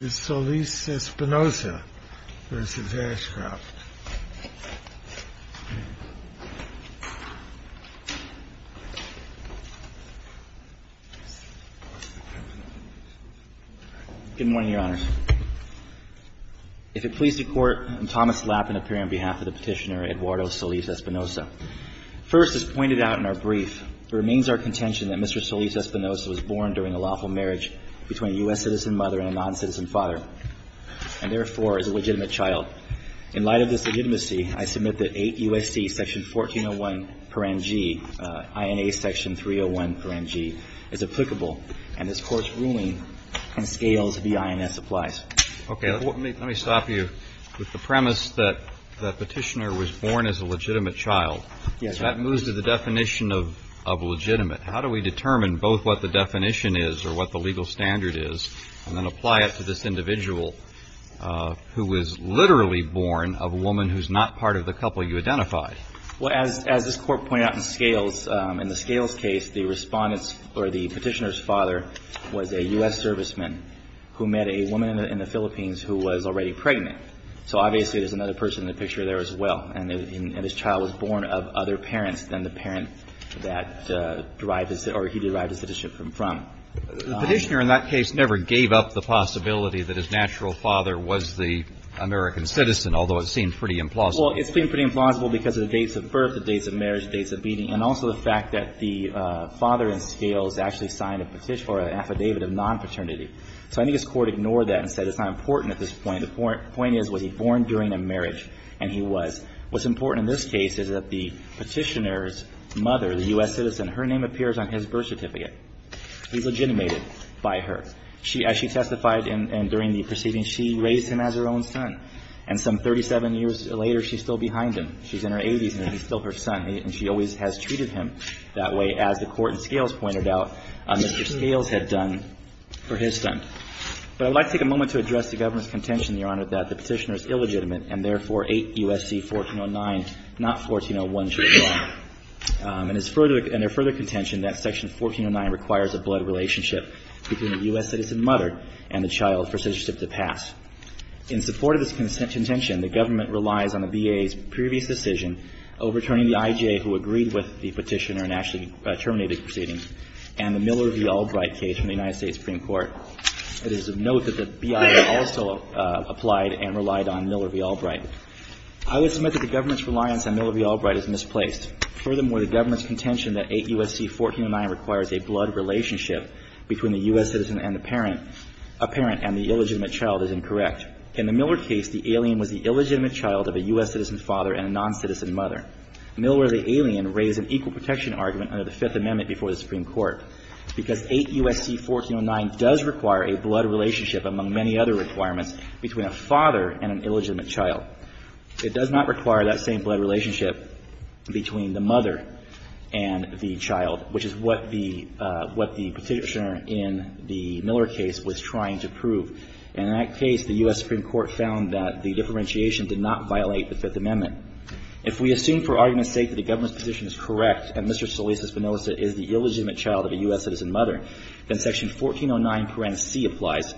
Good morning, Your Honors. If it pleases the Court, I'm Thomas Lapin, appearing on behalf of the Petitioner Eduardo Solis-Espinoza. First, as pointed out in our brief, it remains our contention that Mr. Solis-Espinoza was born during a lawful marriage between a U.S. citizen mother and a non-citizen father, and therefore is a legitimate child. In light of this legitimacy, I submit that 8 U.S.C. section 1401, parangee, INA section 301, parangee, is applicable. And this Court's ruling on scales v. INS applies. CHIEF JUSTICE BREYER Okay. Let me stop you with the premise that the Petitioner was born as a legitimate child. If that moves to the definition of legitimate, how do we determine both what the definition is or what the legal standard is, and then apply it to this individual who was literally born of a woman who's not part of the couple you identified? ASHCROFT Well, as this Court pointed out in scales, in the scales case, the Respondent's or the Petitioner's father was a U.S. serviceman who met a woman in the Philippines who was already pregnant. So obviously there's another person in the picture there as well. And his child was born of other parents than the parent that derived his or he derived his citizenship from. CHIEF JUSTICE BREYER The Petitioner in that case never gave up the possibility that his natural father was the American citizen, although it seemed pretty implausible. ASHCROFT Well, it seemed pretty implausible because of the dates of birth, the dates of marriage, the dates of meeting, and also the fact that the father in scales actually signed a petition or an affidavit of non-paternity. So I think this Court ignored that and said it's not important at this point. The point is, was he born during a marriage? And he was. What's important in this case is that the Petitioner's mother, the U.S. citizen, her name appears on his birth certificate. He's legitimated by her. As she testified during the proceedings, she raised him as her own son. And some 37 years later, she's still behind him. She's in her 80s, and he's still her son. And she always has treated him that way, as the Court in scales pointed out, Mr. Scales had done for his son. But I'd like to take a moment to address the Government's contention, Your Honor, that the Petitioner is illegitimate and therefore 8 U.S.C. 1409, not 1401, should be drawn. And it's further – and their further contention that Section 1409 requires a blood relationship between the U.S. citizen mother and the child for citizenship to pass. In support of this contention, the Government relies on the VA's previous decision overturning the IJ who agreed with the Petitioner and actually terminated the proceedings and the Miller v. Albright case from the United States Supreme Court. It is of note that the BIA also applied and relied on Miller v. Albright. I would submit that the Government's reliance on Miller v. Albright is misplaced. Furthermore, the Government's contention that 8 U.S.C. 1409 requires a blood relationship between the U.S. citizen and the parent – a parent and the illegitimate child is incorrect. In the Miller case, the alien was the illegitimate child of a U.S. citizen father and a non-citizen mother. Miller v. Alien raised an equal protection argument under the Fifth Amendment before the Supreme Court because 8 U.S.C. 1409 does require a blood relationship, among many other requirements, between a father and an illegitimate child. It does not require that same blood relationship between the mother and the child, which is what the – what the Petitioner in the Miller case was trying to prove. And in that case, the U.S. Supreme Court found that the differentiation did not violate the Fifth Amendment. If we assume for argument's sake that the Government's position is correct that Mr. Solis-Espinosa is the illegitimate child of a U.S. citizen mother, then Section 1409, parent C, applies.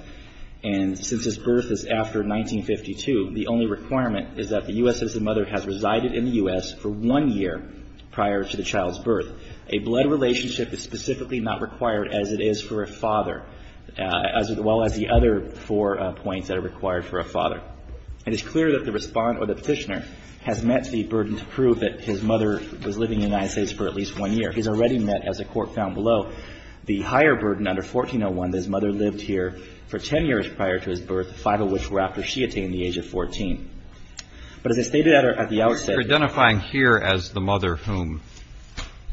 And since his birth is after 1952, the only requirement is that the U.S. citizen mother has resided in the U.S. for one year prior to the child's birth. A blood relationship is specifically not required, as it is for a father, as well as the other four points that are required for a father. It is clear that the Respondent or the Petitioner has met the burden to prove that his mother was living in the United States for at least one year. He's already met, as the Court found below, the higher burden under 1401 that his mother lived here for 10 years prior to his birth, five of which were after she had taken the age of 14. But as I stated at the outset… Kennedy, you're identifying here as the mother whom?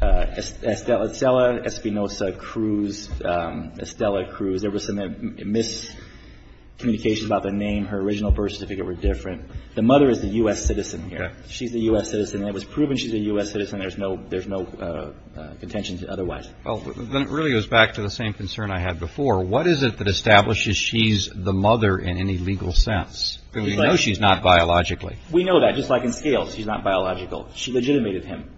Estela – Estela Espinosa Cruz. Estela Cruz. There was some miscommunication about the name. Her original birth certificate were different. The mother is the U.S. citizen here. She's the U.S. citizen. It was proven she's a U.S. citizen. There's no contention otherwise. Well, then it really goes back to the same concern I had before. What is it that establishes she's the mother in any legal sense? We know she's not biologically. We know that, just like in scales. She's not biological. She legitimated him.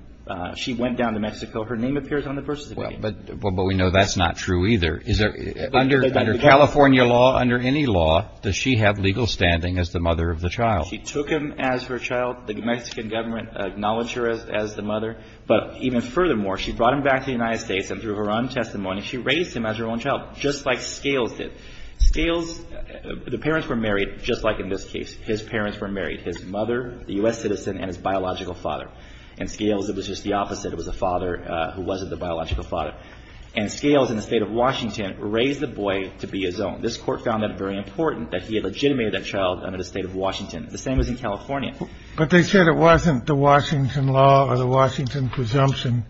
She went down to Mexico. Her name appears on the birth certificate. Well, but we know that's not true either. Under California law, under any law, does she have legal standing as the mother of the child? She took him as her child. The Mexican government acknowledged her as the mother. But even furthermore, she brought him back to the United States, and through her own testimony, she raised him as her own child, just like scales did. Scales – the parents were married, just like in this case. His parents were married. His mother, the U.S. citizen, and his biological father. In scales, it was just the opposite. It was the father who wasn't the biological father. And scales, in the state of Washington, raised the boy to be his own. This court found that very important, that he had legitimated that child under the state of Washington. The same was in California. But they said it wasn't the Washington law or the Washington presumption,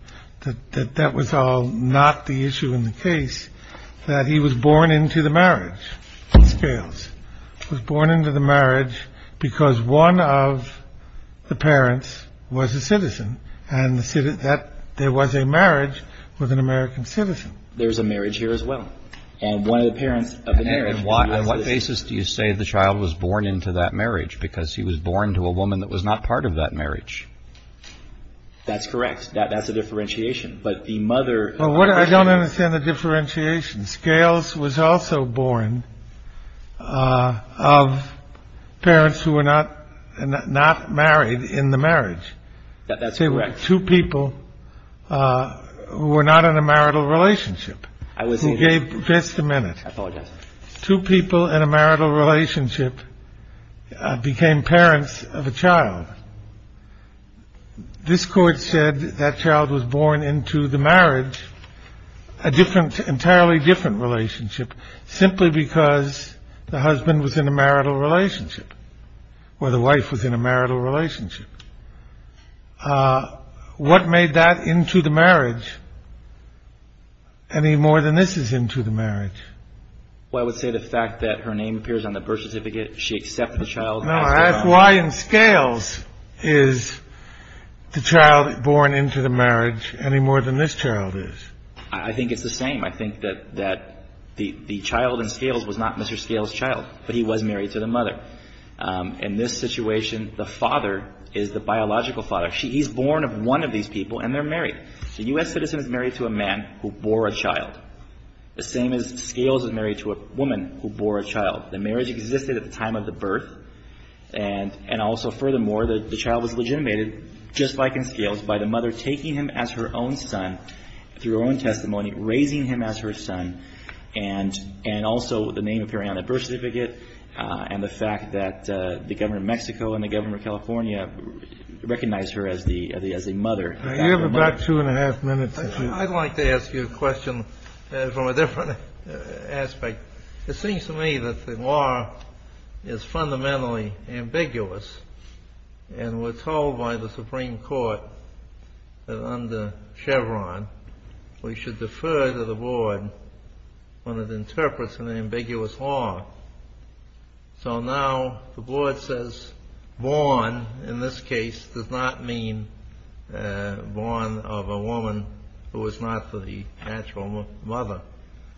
that that was all not the issue in the case, that he was born into the marriage. Scales was born into the marriage because one of the parents was a citizen. And there was a marriage with an American citizen. There's a marriage here as well. And one of the parents of the marriage – And on what basis do you say the child was born into that marriage? Because he was born to a woman that was not part of that marriage. That's correct. That's a differentiation. But the mother – Well, I don't understand the differentiation. Scales was also born of parents who were not married in the marriage. That's correct. Two people who were not in a marital relationship. I wasn't. Just a minute. I apologize. Two people in a marital relationship became parents of a child. This court said that child was born into the marriage, a different – entirely different relationship, simply because the husband was in a marital relationship or the wife was in a marital relationship. What made that into the marriage any more than this is into the marriage? Well, I would say the fact that her name appears on the birth certificate. She accepted the child. No, I ask why in Scales is the child born into the marriage any more than this child is. I think it's the same. I think that the child in Scales was not Mr. Scales' child. But he was married to the mother. In this situation, the father is the biological father. He's born of one of these people, and they're married. A U.S. citizen is married to a man who bore a child. The same as Scales is married to a woman who bore a child. The marriage existed at the time of the birth. And also, furthermore, the child was legitimated, just like in Scales, by the mother taking him as her own son through her own testimony, raising him as her son, and also the name appearing on the birth certificate and the fact that the governor of Mexico and the governor of California recognized her as a mother. You have about two and a half minutes. I'd like to ask you a question from a different aspect. It seems to me that the law is fundamentally ambiguous, and we're told by the Supreme Court that under Chevron, we should defer to the board when it interprets an ambiguous law. So now the board says born, in this case, does not mean born of a woman who is not the actual mother.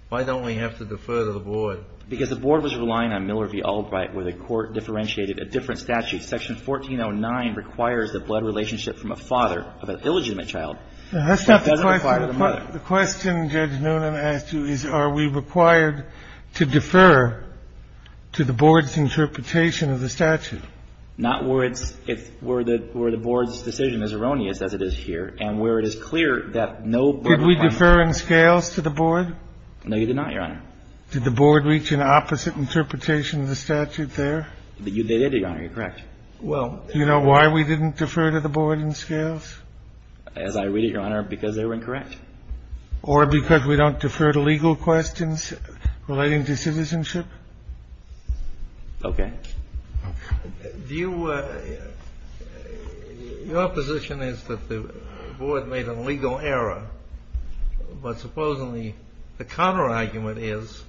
Why don't we have to defer to the board? Because the board was relying on Miller v. Albright, where the court differentiated a different statute. Section 1409 requires the blood relationship from a father of an illegitimate child. It doesn't require the mother. The question Judge Noonan asked you is are we required to defer to the board's interpretation of the statute? Not where it's – where the board's decision is erroneous, as it is here, and where it is clear that no – Could we defer in Scales to the board? No, you could not, Your Honor. Did the board reach an opposite interpretation of the statute there? They did, Your Honor. You're correct. Do you know why we didn't defer to the board in Scales? As I read it, Your Honor, because they were incorrect. Or because we don't defer to legal questions relating to citizenship? Okay. Do you – your position is that the board made a legal error, but supposedly the counterargument is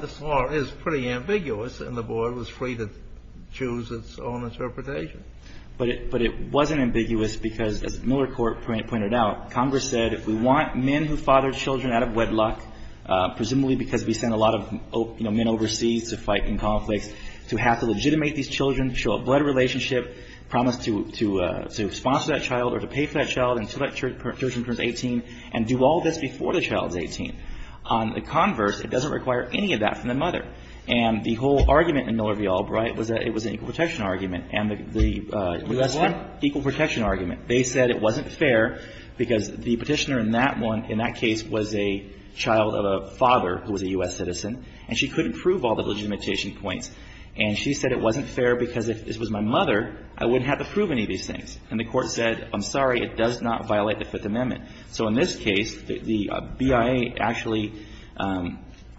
this law is pretty ambiguous, and the board was free to choose its own interpretation? But it wasn't ambiguous because, as Miller Court pointed out, Congress said if we want men who father children out of wedlock, presumably because we send a lot of, you know, men overseas to fight in conflicts, to have to legitimate these children, show a blood relationship, promise to sponsor that child or to pay for that child until that child turns 18, and do all this before the child is 18. On the converse, it doesn't require any of that from the mother. And the whole argument in Miller v. Albright was that it was an equal protection argument, and the U.S. What? Equal protection argument. They said it wasn't fair because the Petitioner in that one, in that case, was a child of a father who was a U.S. citizen, and she couldn't prove all the legitimation points. And she said it wasn't fair because if this was my mother, I wouldn't have to prove any of these things. And the Court said, I'm sorry, it does not violate the Fifth Amendment. So in this case, the BIA actually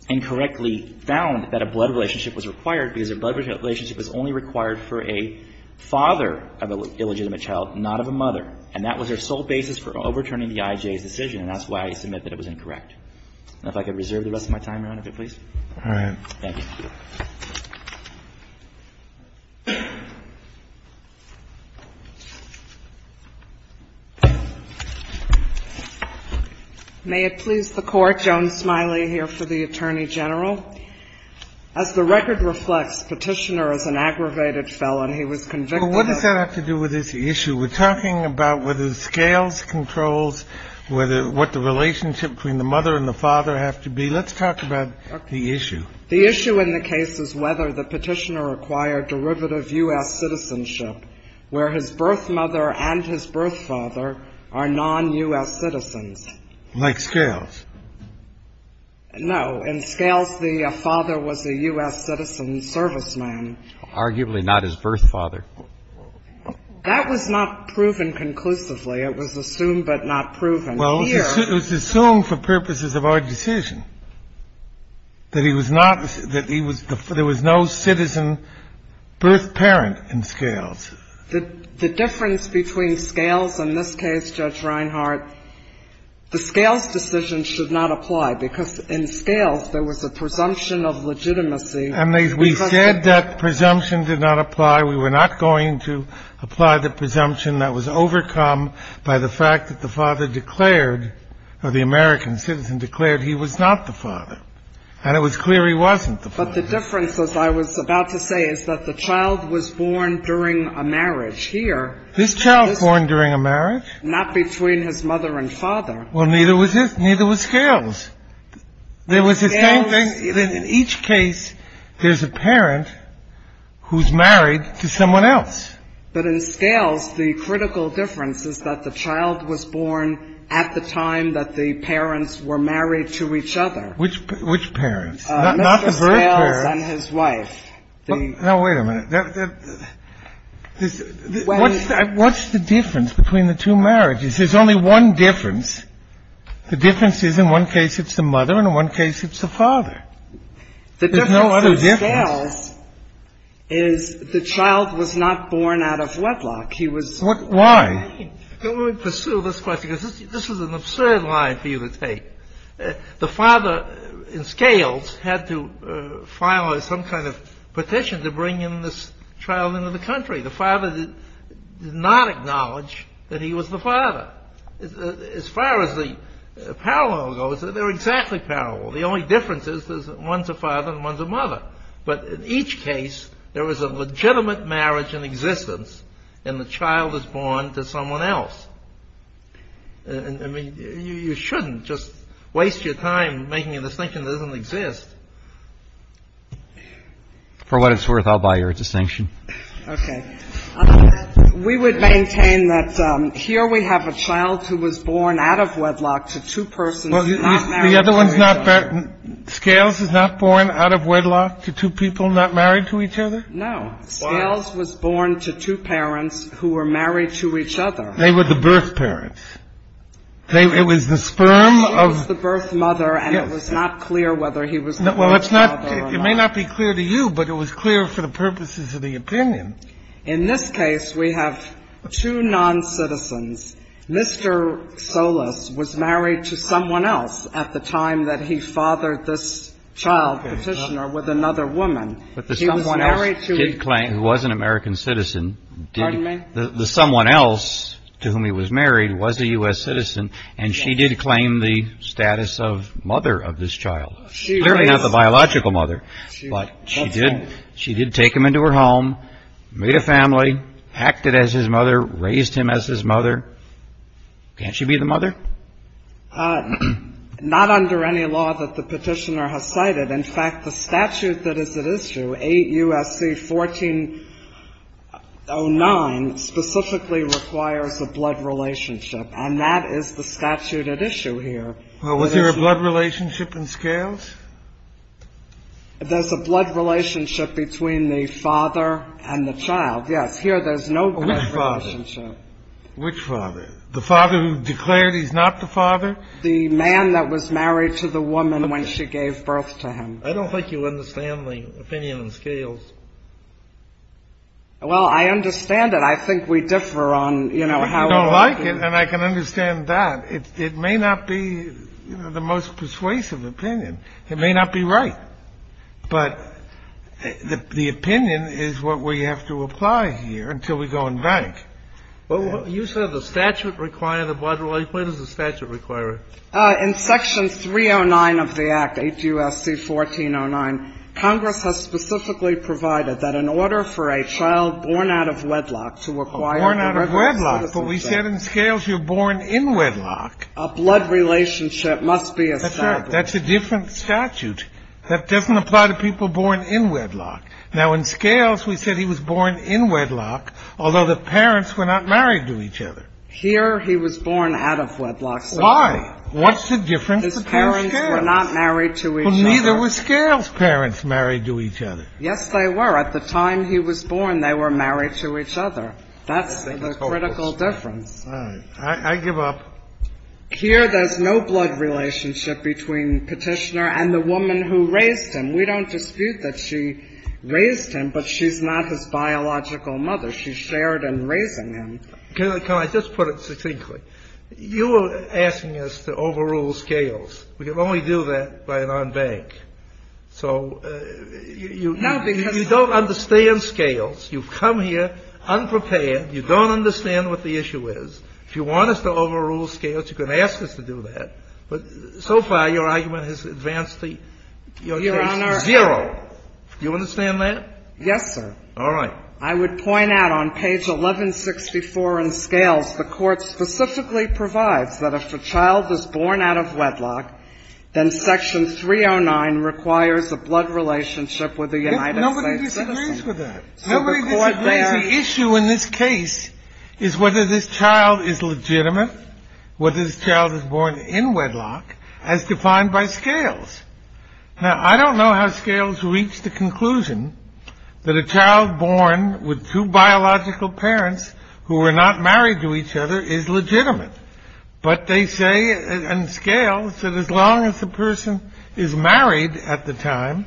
incorrectly found that a blood relationship was required because a blood relationship was only required for a father of an illegitimate child, not of a mother. And that was their sole basis for overturning the IJA's decision, and that's why I submit that it was incorrect. If I could reserve the rest of my time around it, please. All right. Thank you. May it please the Court. Joan Smiley here for the Attorney General. As the record reflects, Petitioner is an aggravated felon. He was convicted of ---- Well, what does that have to do with this issue? We're talking about whether the scales, controls, whether what the relationship between the mother and the father have to be. Let's talk about the issue. The issue in the case is whether the Petitioner acquired derivative U.S. citizenship where his birth mother and his birth father are non-U.S. citizens. Like scales. No. In scales, the father was a U.S. citizen serviceman. Arguably not his birth father. That was not proven conclusively. It was assumed but not proven. Well, it was assumed for purposes of our decision that he was not, that he was, there was no citizen birth parent in scales. The difference between scales in this case, Judge Reinhart, the scales decision should not apply because in scales there was a presumption of legitimacy. And we said that presumption did not apply. We were not going to apply the presumption that was overcome by the fact that the American citizen declared he was not the father. And it was clear he wasn't the father. But the difference, as I was about to say, is that the child was born during a marriage here. This child born during a marriage? Not between his mother and father. Well, neither was scales. There was the same thing. In each case, there's a parent who's married to someone else. But in scales, the critical difference is that the child was born at the time that the parents were married to each other. Which parents? Not the birth parents. Mr. Scales and his wife. Now, wait a minute. What's the difference between the two marriages? There's only one difference. The difference is in one case it's the mother and in one case it's the father. There's no other difference. The difference in scales is the child was not born out of wedlock. He was married. Why? Let me pursue this question because this is an absurd line for you to take. The father in scales had to file some kind of petition to bring in this child into the country. The father did not acknowledge that he was the father. As far as the parallel goes, they're exactly parallel. The only difference is one's a father and one's a mother. But in each case, there was a legitimate marriage in existence and the child was born to someone else. I mean, you shouldn't just waste your time making a distinction that doesn't exist. For what it's worth, I'll buy your distinction. Okay. We would maintain that here we have a child who was born out of wedlock to two persons who are not married. Well, the other one's not. Scales is not born out of wedlock to two people not married to each other. No. Scales was born to two parents who were married to each other. They were the birth parents. It was the sperm of the birth mother. And it was not clear whether he was. Well, it's not. It may not be clear to you, but it was clear for the purposes of the opinion. In this case, we have two noncitizens. Mr. Solis was married to someone else at the time that he fathered this child petitioner with another woman. But the someone else did claim he was an American citizen. Pardon me? The someone else to whom he was married was a U.S. citizen, and she did claim the status of mother of this child. Clearly not the biological mother. But she did take him into her home, made a family, acted as his mother, raised him as his mother. Can't she be the mother? Not under any law that the petitioner has cited. In fact, the statute that is at issue, 8 U.S.C. 1409, specifically requires a blood relationship. And that is the statute at issue here. Well, was there a blood relationship in Scales? There's a blood relationship between the father and the child. Yes. Here there's no blood relationship. Which father? Which father? The father who declared he's not the father? The man that was married to the woman when she gave birth to him. I don't think you understand the opinion in Scales. Well, I understand it. I think we differ on, you know, how we look at it. I don't like it, and I can understand that. It may not be the most persuasive opinion. It may not be right. But the opinion is what we have to apply here until we go and bank. Well, you said the statute required a blood relationship. What does the statute require? In Section 309 of the Act, 8 U.S.C. 1409, Congress has specifically provided that in order for a child born out of wedlock to require a regular citizenship. But we said in Scales you're born in wedlock. A blood relationship must be established. That's right. That's a different statute. That doesn't apply to people born in wedlock. Now, in Scales we said he was born in wedlock, although the parents were not married to each other. Here he was born out of wedlock. Why? What's the difference between Scales? His parents were not married to each other. Well, neither were Scales' parents married to each other. Yes, they were. At the time he was born, they were married to each other. That's the critical difference. All right. I give up. Here there's no blood relationship between Petitioner and the woman who raised him. We don't dispute that she raised him, but she's not his biological mother. She shared in raising him. Can I just put it succinctly? You are asking us to overrule Scales. We can only do that by an en banc. So you don't understand Scales. You've come here unprepared. You don't understand what the issue is. If you want us to overrule Scales, you can ask us to do that. But so far your argument has advanced the case zero. Do you understand that? Yes, sir. All right. I would point out on page 1164 in Scales the Court specifically provides that if a child is born out of wedlock, then section 309 requires a blood relationship with a United States citizen. Nobody disagrees with that. Nobody disagrees. The issue in this case is whether this child is legitimate, whether this child is born in wedlock, as defined by Scales. Now, I don't know how Scales reached the conclusion that a child born with two biological parents who were not married to each other is legitimate. But they say in Scales that as long as the person is married at the time,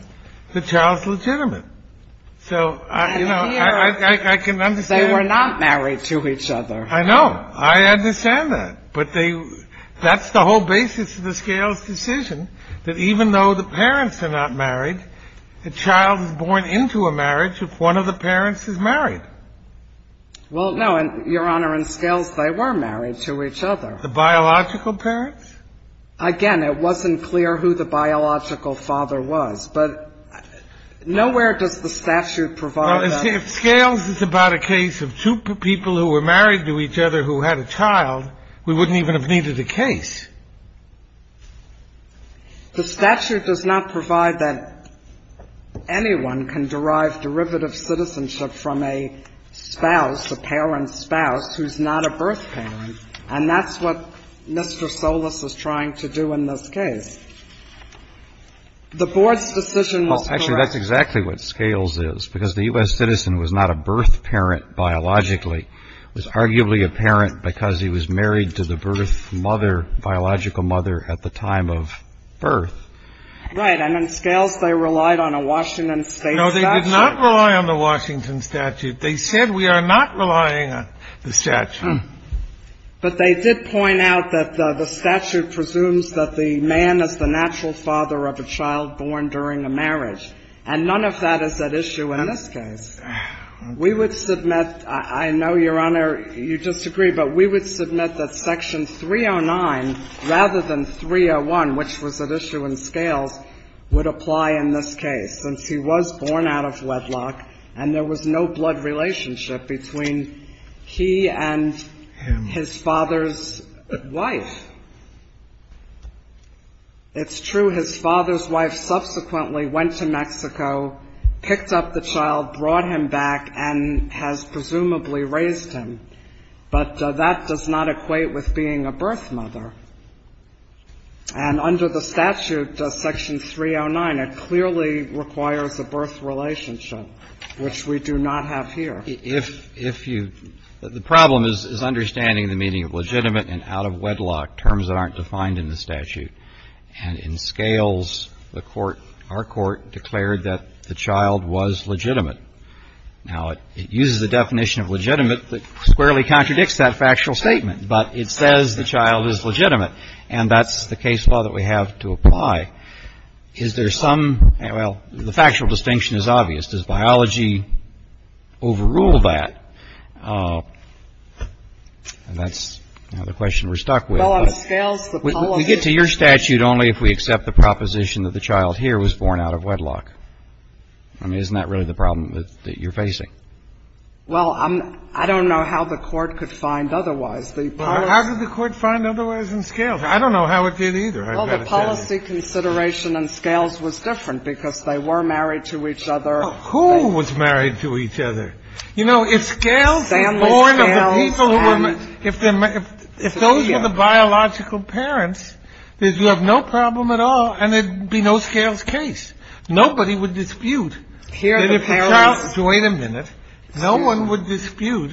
the child's legitimate. So, you know, I can understand. They were not married to each other. I know. I understand that. But that's the whole basis of the Scales decision, that even though the parents are not married, the child is born into a marriage if one of the parents is married. Well, no, Your Honor, in Scales they were married to each other. The biological parents? Again, it wasn't clear who the biological father was, but nowhere does the statute provide that. Well, see, if Scales is about a case of two people who were married to each other who had a child, we wouldn't even have needed a case. The statute does not provide that anyone can derive derivative citizenship from a spouse, a parent's spouse, who's not a birth parent. And that's what Mr. Solis is trying to do in this case. The Board's decision was correct. Well, actually, that's exactly what Scales is, because the U.S. citizen was not a birth parent biologically. It was arguably a parent because he was married to the birth mother, biological mother, at the time of birth. Right. And in Scales they relied on a Washington State statute. No, they did not rely on the Washington statute. They said we are not relying on the statute. But they did point out that the statute presumes that the man is the natural father of a child born during a marriage. And none of that is at issue in this case. We would submit — I know, Your Honor, you disagree, but we would submit that Section 309, rather than 301, which was at issue in Scales, would apply in this case, since he was born out of wedlock and there was no blood relationship between he and his father's wife. It's true his father's wife subsequently went to Mexico, picked up the child, brought him back, and has presumably raised him. But that does not equate with being a birth mother. And under the statute, Section 309, it clearly requires a birth relationship, which we do not have here. But if you — the problem is understanding the meaning of legitimate and out-of-wedlock terms that aren't defined in the statute. And in Scales, the court — our court declared that the child was legitimate. Now, it uses a definition of legitimate that squarely contradicts that factual statement, but it says the child is legitimate. And that's the case law that we have to apply. Is there some — well, the factual distinction is obvious. Does biology overrule that? And that's, you know, the question we're stuck with. But we get to your statute only if we accept the proposition that the child here was born out of wedlock. I mean, isn't that really the problem that you're facing? Well, I don't know how the court could find otherwise. How did the court find otherwise in Scales? I don't know how it did either. Well, the policy consideration in Scales was different because they were married to each other. Who was married to each other? You know, if Scales was born of the people who were — if those were the biological parents, then you have no problem at all and there would be no Scales case. Nobody would dispute that if the child — wait a minute. No one would dispute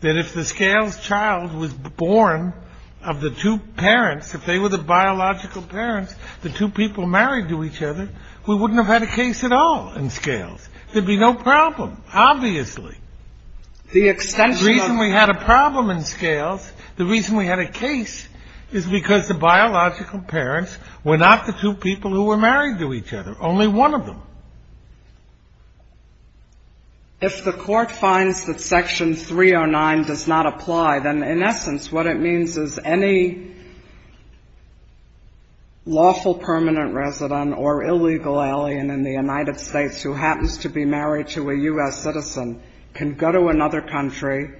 that if the Scales child was born of the two parents, if they were the biological parents, the two people married to each other, we wouldn't have had a case at all in Scales. There'd be no problem, obviously. The reason we had a problem in Scales, the reason we had a case, is because the biological parents were not the two people who were married to each other, only one of them. If the court finds that Section 309 does not apply, then in essence what it means is any lawful permanent resident or illegal alien in the United States who happens to be married to a U.S. citizen can go to another country,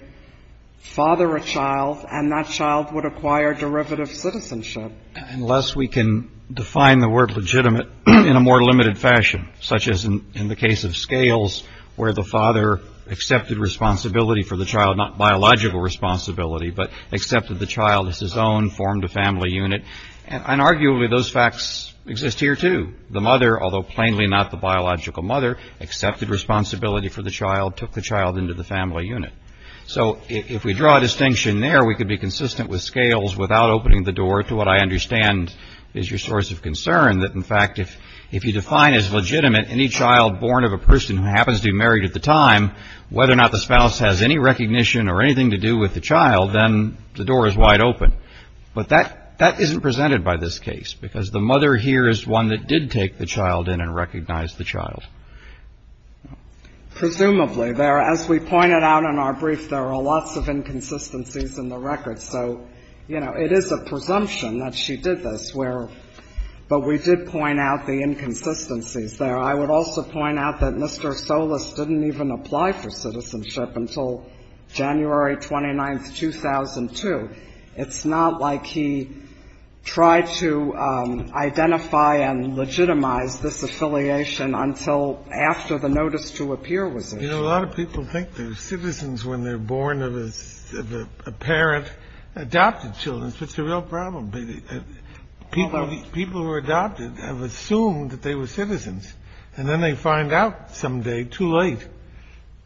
father a child, and that child would acquire derivative citizenship. Unless we can define the word legitimate in a more limited fashion, such as in the case of Scales where the father accepted responsibility for the child, not the child as his own, formed a family unit, and arguably those facts exist here too. The mother, although plainly not the biological mother, accepted responsibility for the child, took the child into the family unit. So if we draw a distinction there, we could be consistent with Scales without opening the door to what I understand is your source of concern, that in fact if you define as legitimate any child born of a person who happens to be married at the time, whether or not the spouse has any recognition or anything to do with the child, then the door is wide open. But that isn't presented by this case, because the mother here is one that did take the child in and recognize the child. Presumably. As we pointed out in our brief, there are lots of inconsistencies in the record. So, you know, it is a presumption that she did this. But we did point out the inconsistencies there. I would also point out that Mr. Solis didn't even apply for citizenship until January 29th, 2002. It's not like he tried to identify and legitimize this affiliation until after the notice to appear was issued. You know, a lot of people think they're citizens when they're born of a parent adopted children. It's a real problem. People who are adopted have assumed that they were citizens. And then they find out someday, too late,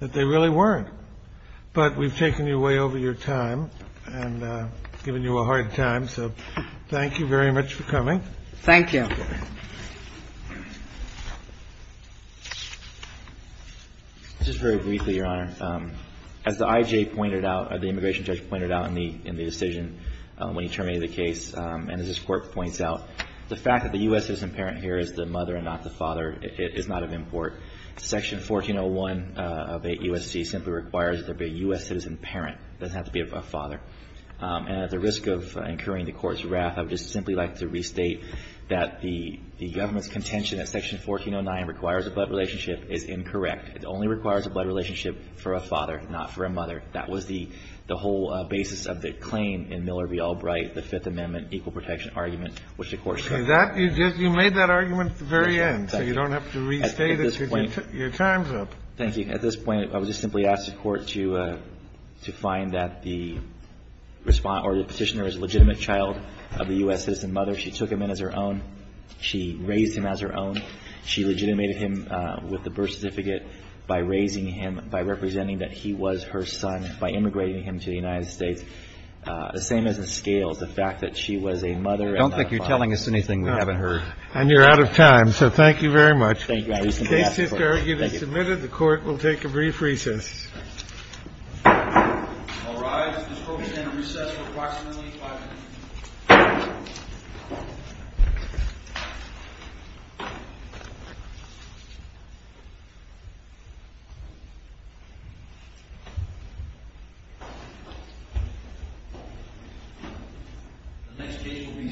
that they really weren't. But we've taken you way over your time and given you a hard time. So thank you very much for coming. Thank you. Just very briefly, Your Honor. As the I.J. pointed out, or the immigration judge pointed out in the decision when he terminated the case, and as this Court points out, the fact that the U.S. citizen parent here is the mother and not the father is not of import. Section 1401 of 8 U.S.C. simply requires that there be a U.S. citizen parent. It doesn't have to be a father. And at the risk of incurring the Court's wrath, I would just simply like to restate that the government's contention that Section 1409 requires a blood relationship is incorrect. It only requires a blood relationship for a father, not for a mother. That was the whole basis of the claim in Miller v. Albright, the Fifth Amendment equal protection argument, which the Court said. You made that argument at the very end. So you don't have to restate it because your time's up. Thank you. At this point, I would just simply ask the Court to find that the respondent or the Petitioner is a legitimate child of the U.S. citizen mother. She took him in as her own. She raised him as her own. She legitimated him with the birth certificate by raising him, by representing that he was her son, by immigrating him to the United States. The same as in Scales, the fact that she was a mother and not a father. I don't think you're telling us anything we haven't heard. And you're out of time. So thank you very much. Thank you. I would simply ask for that. Thank you. The case is submitted. The Court will take a brief recess. All rise. This Court is going to recess for approximately five minutes. The next case will be Saanen v. Ashcroft.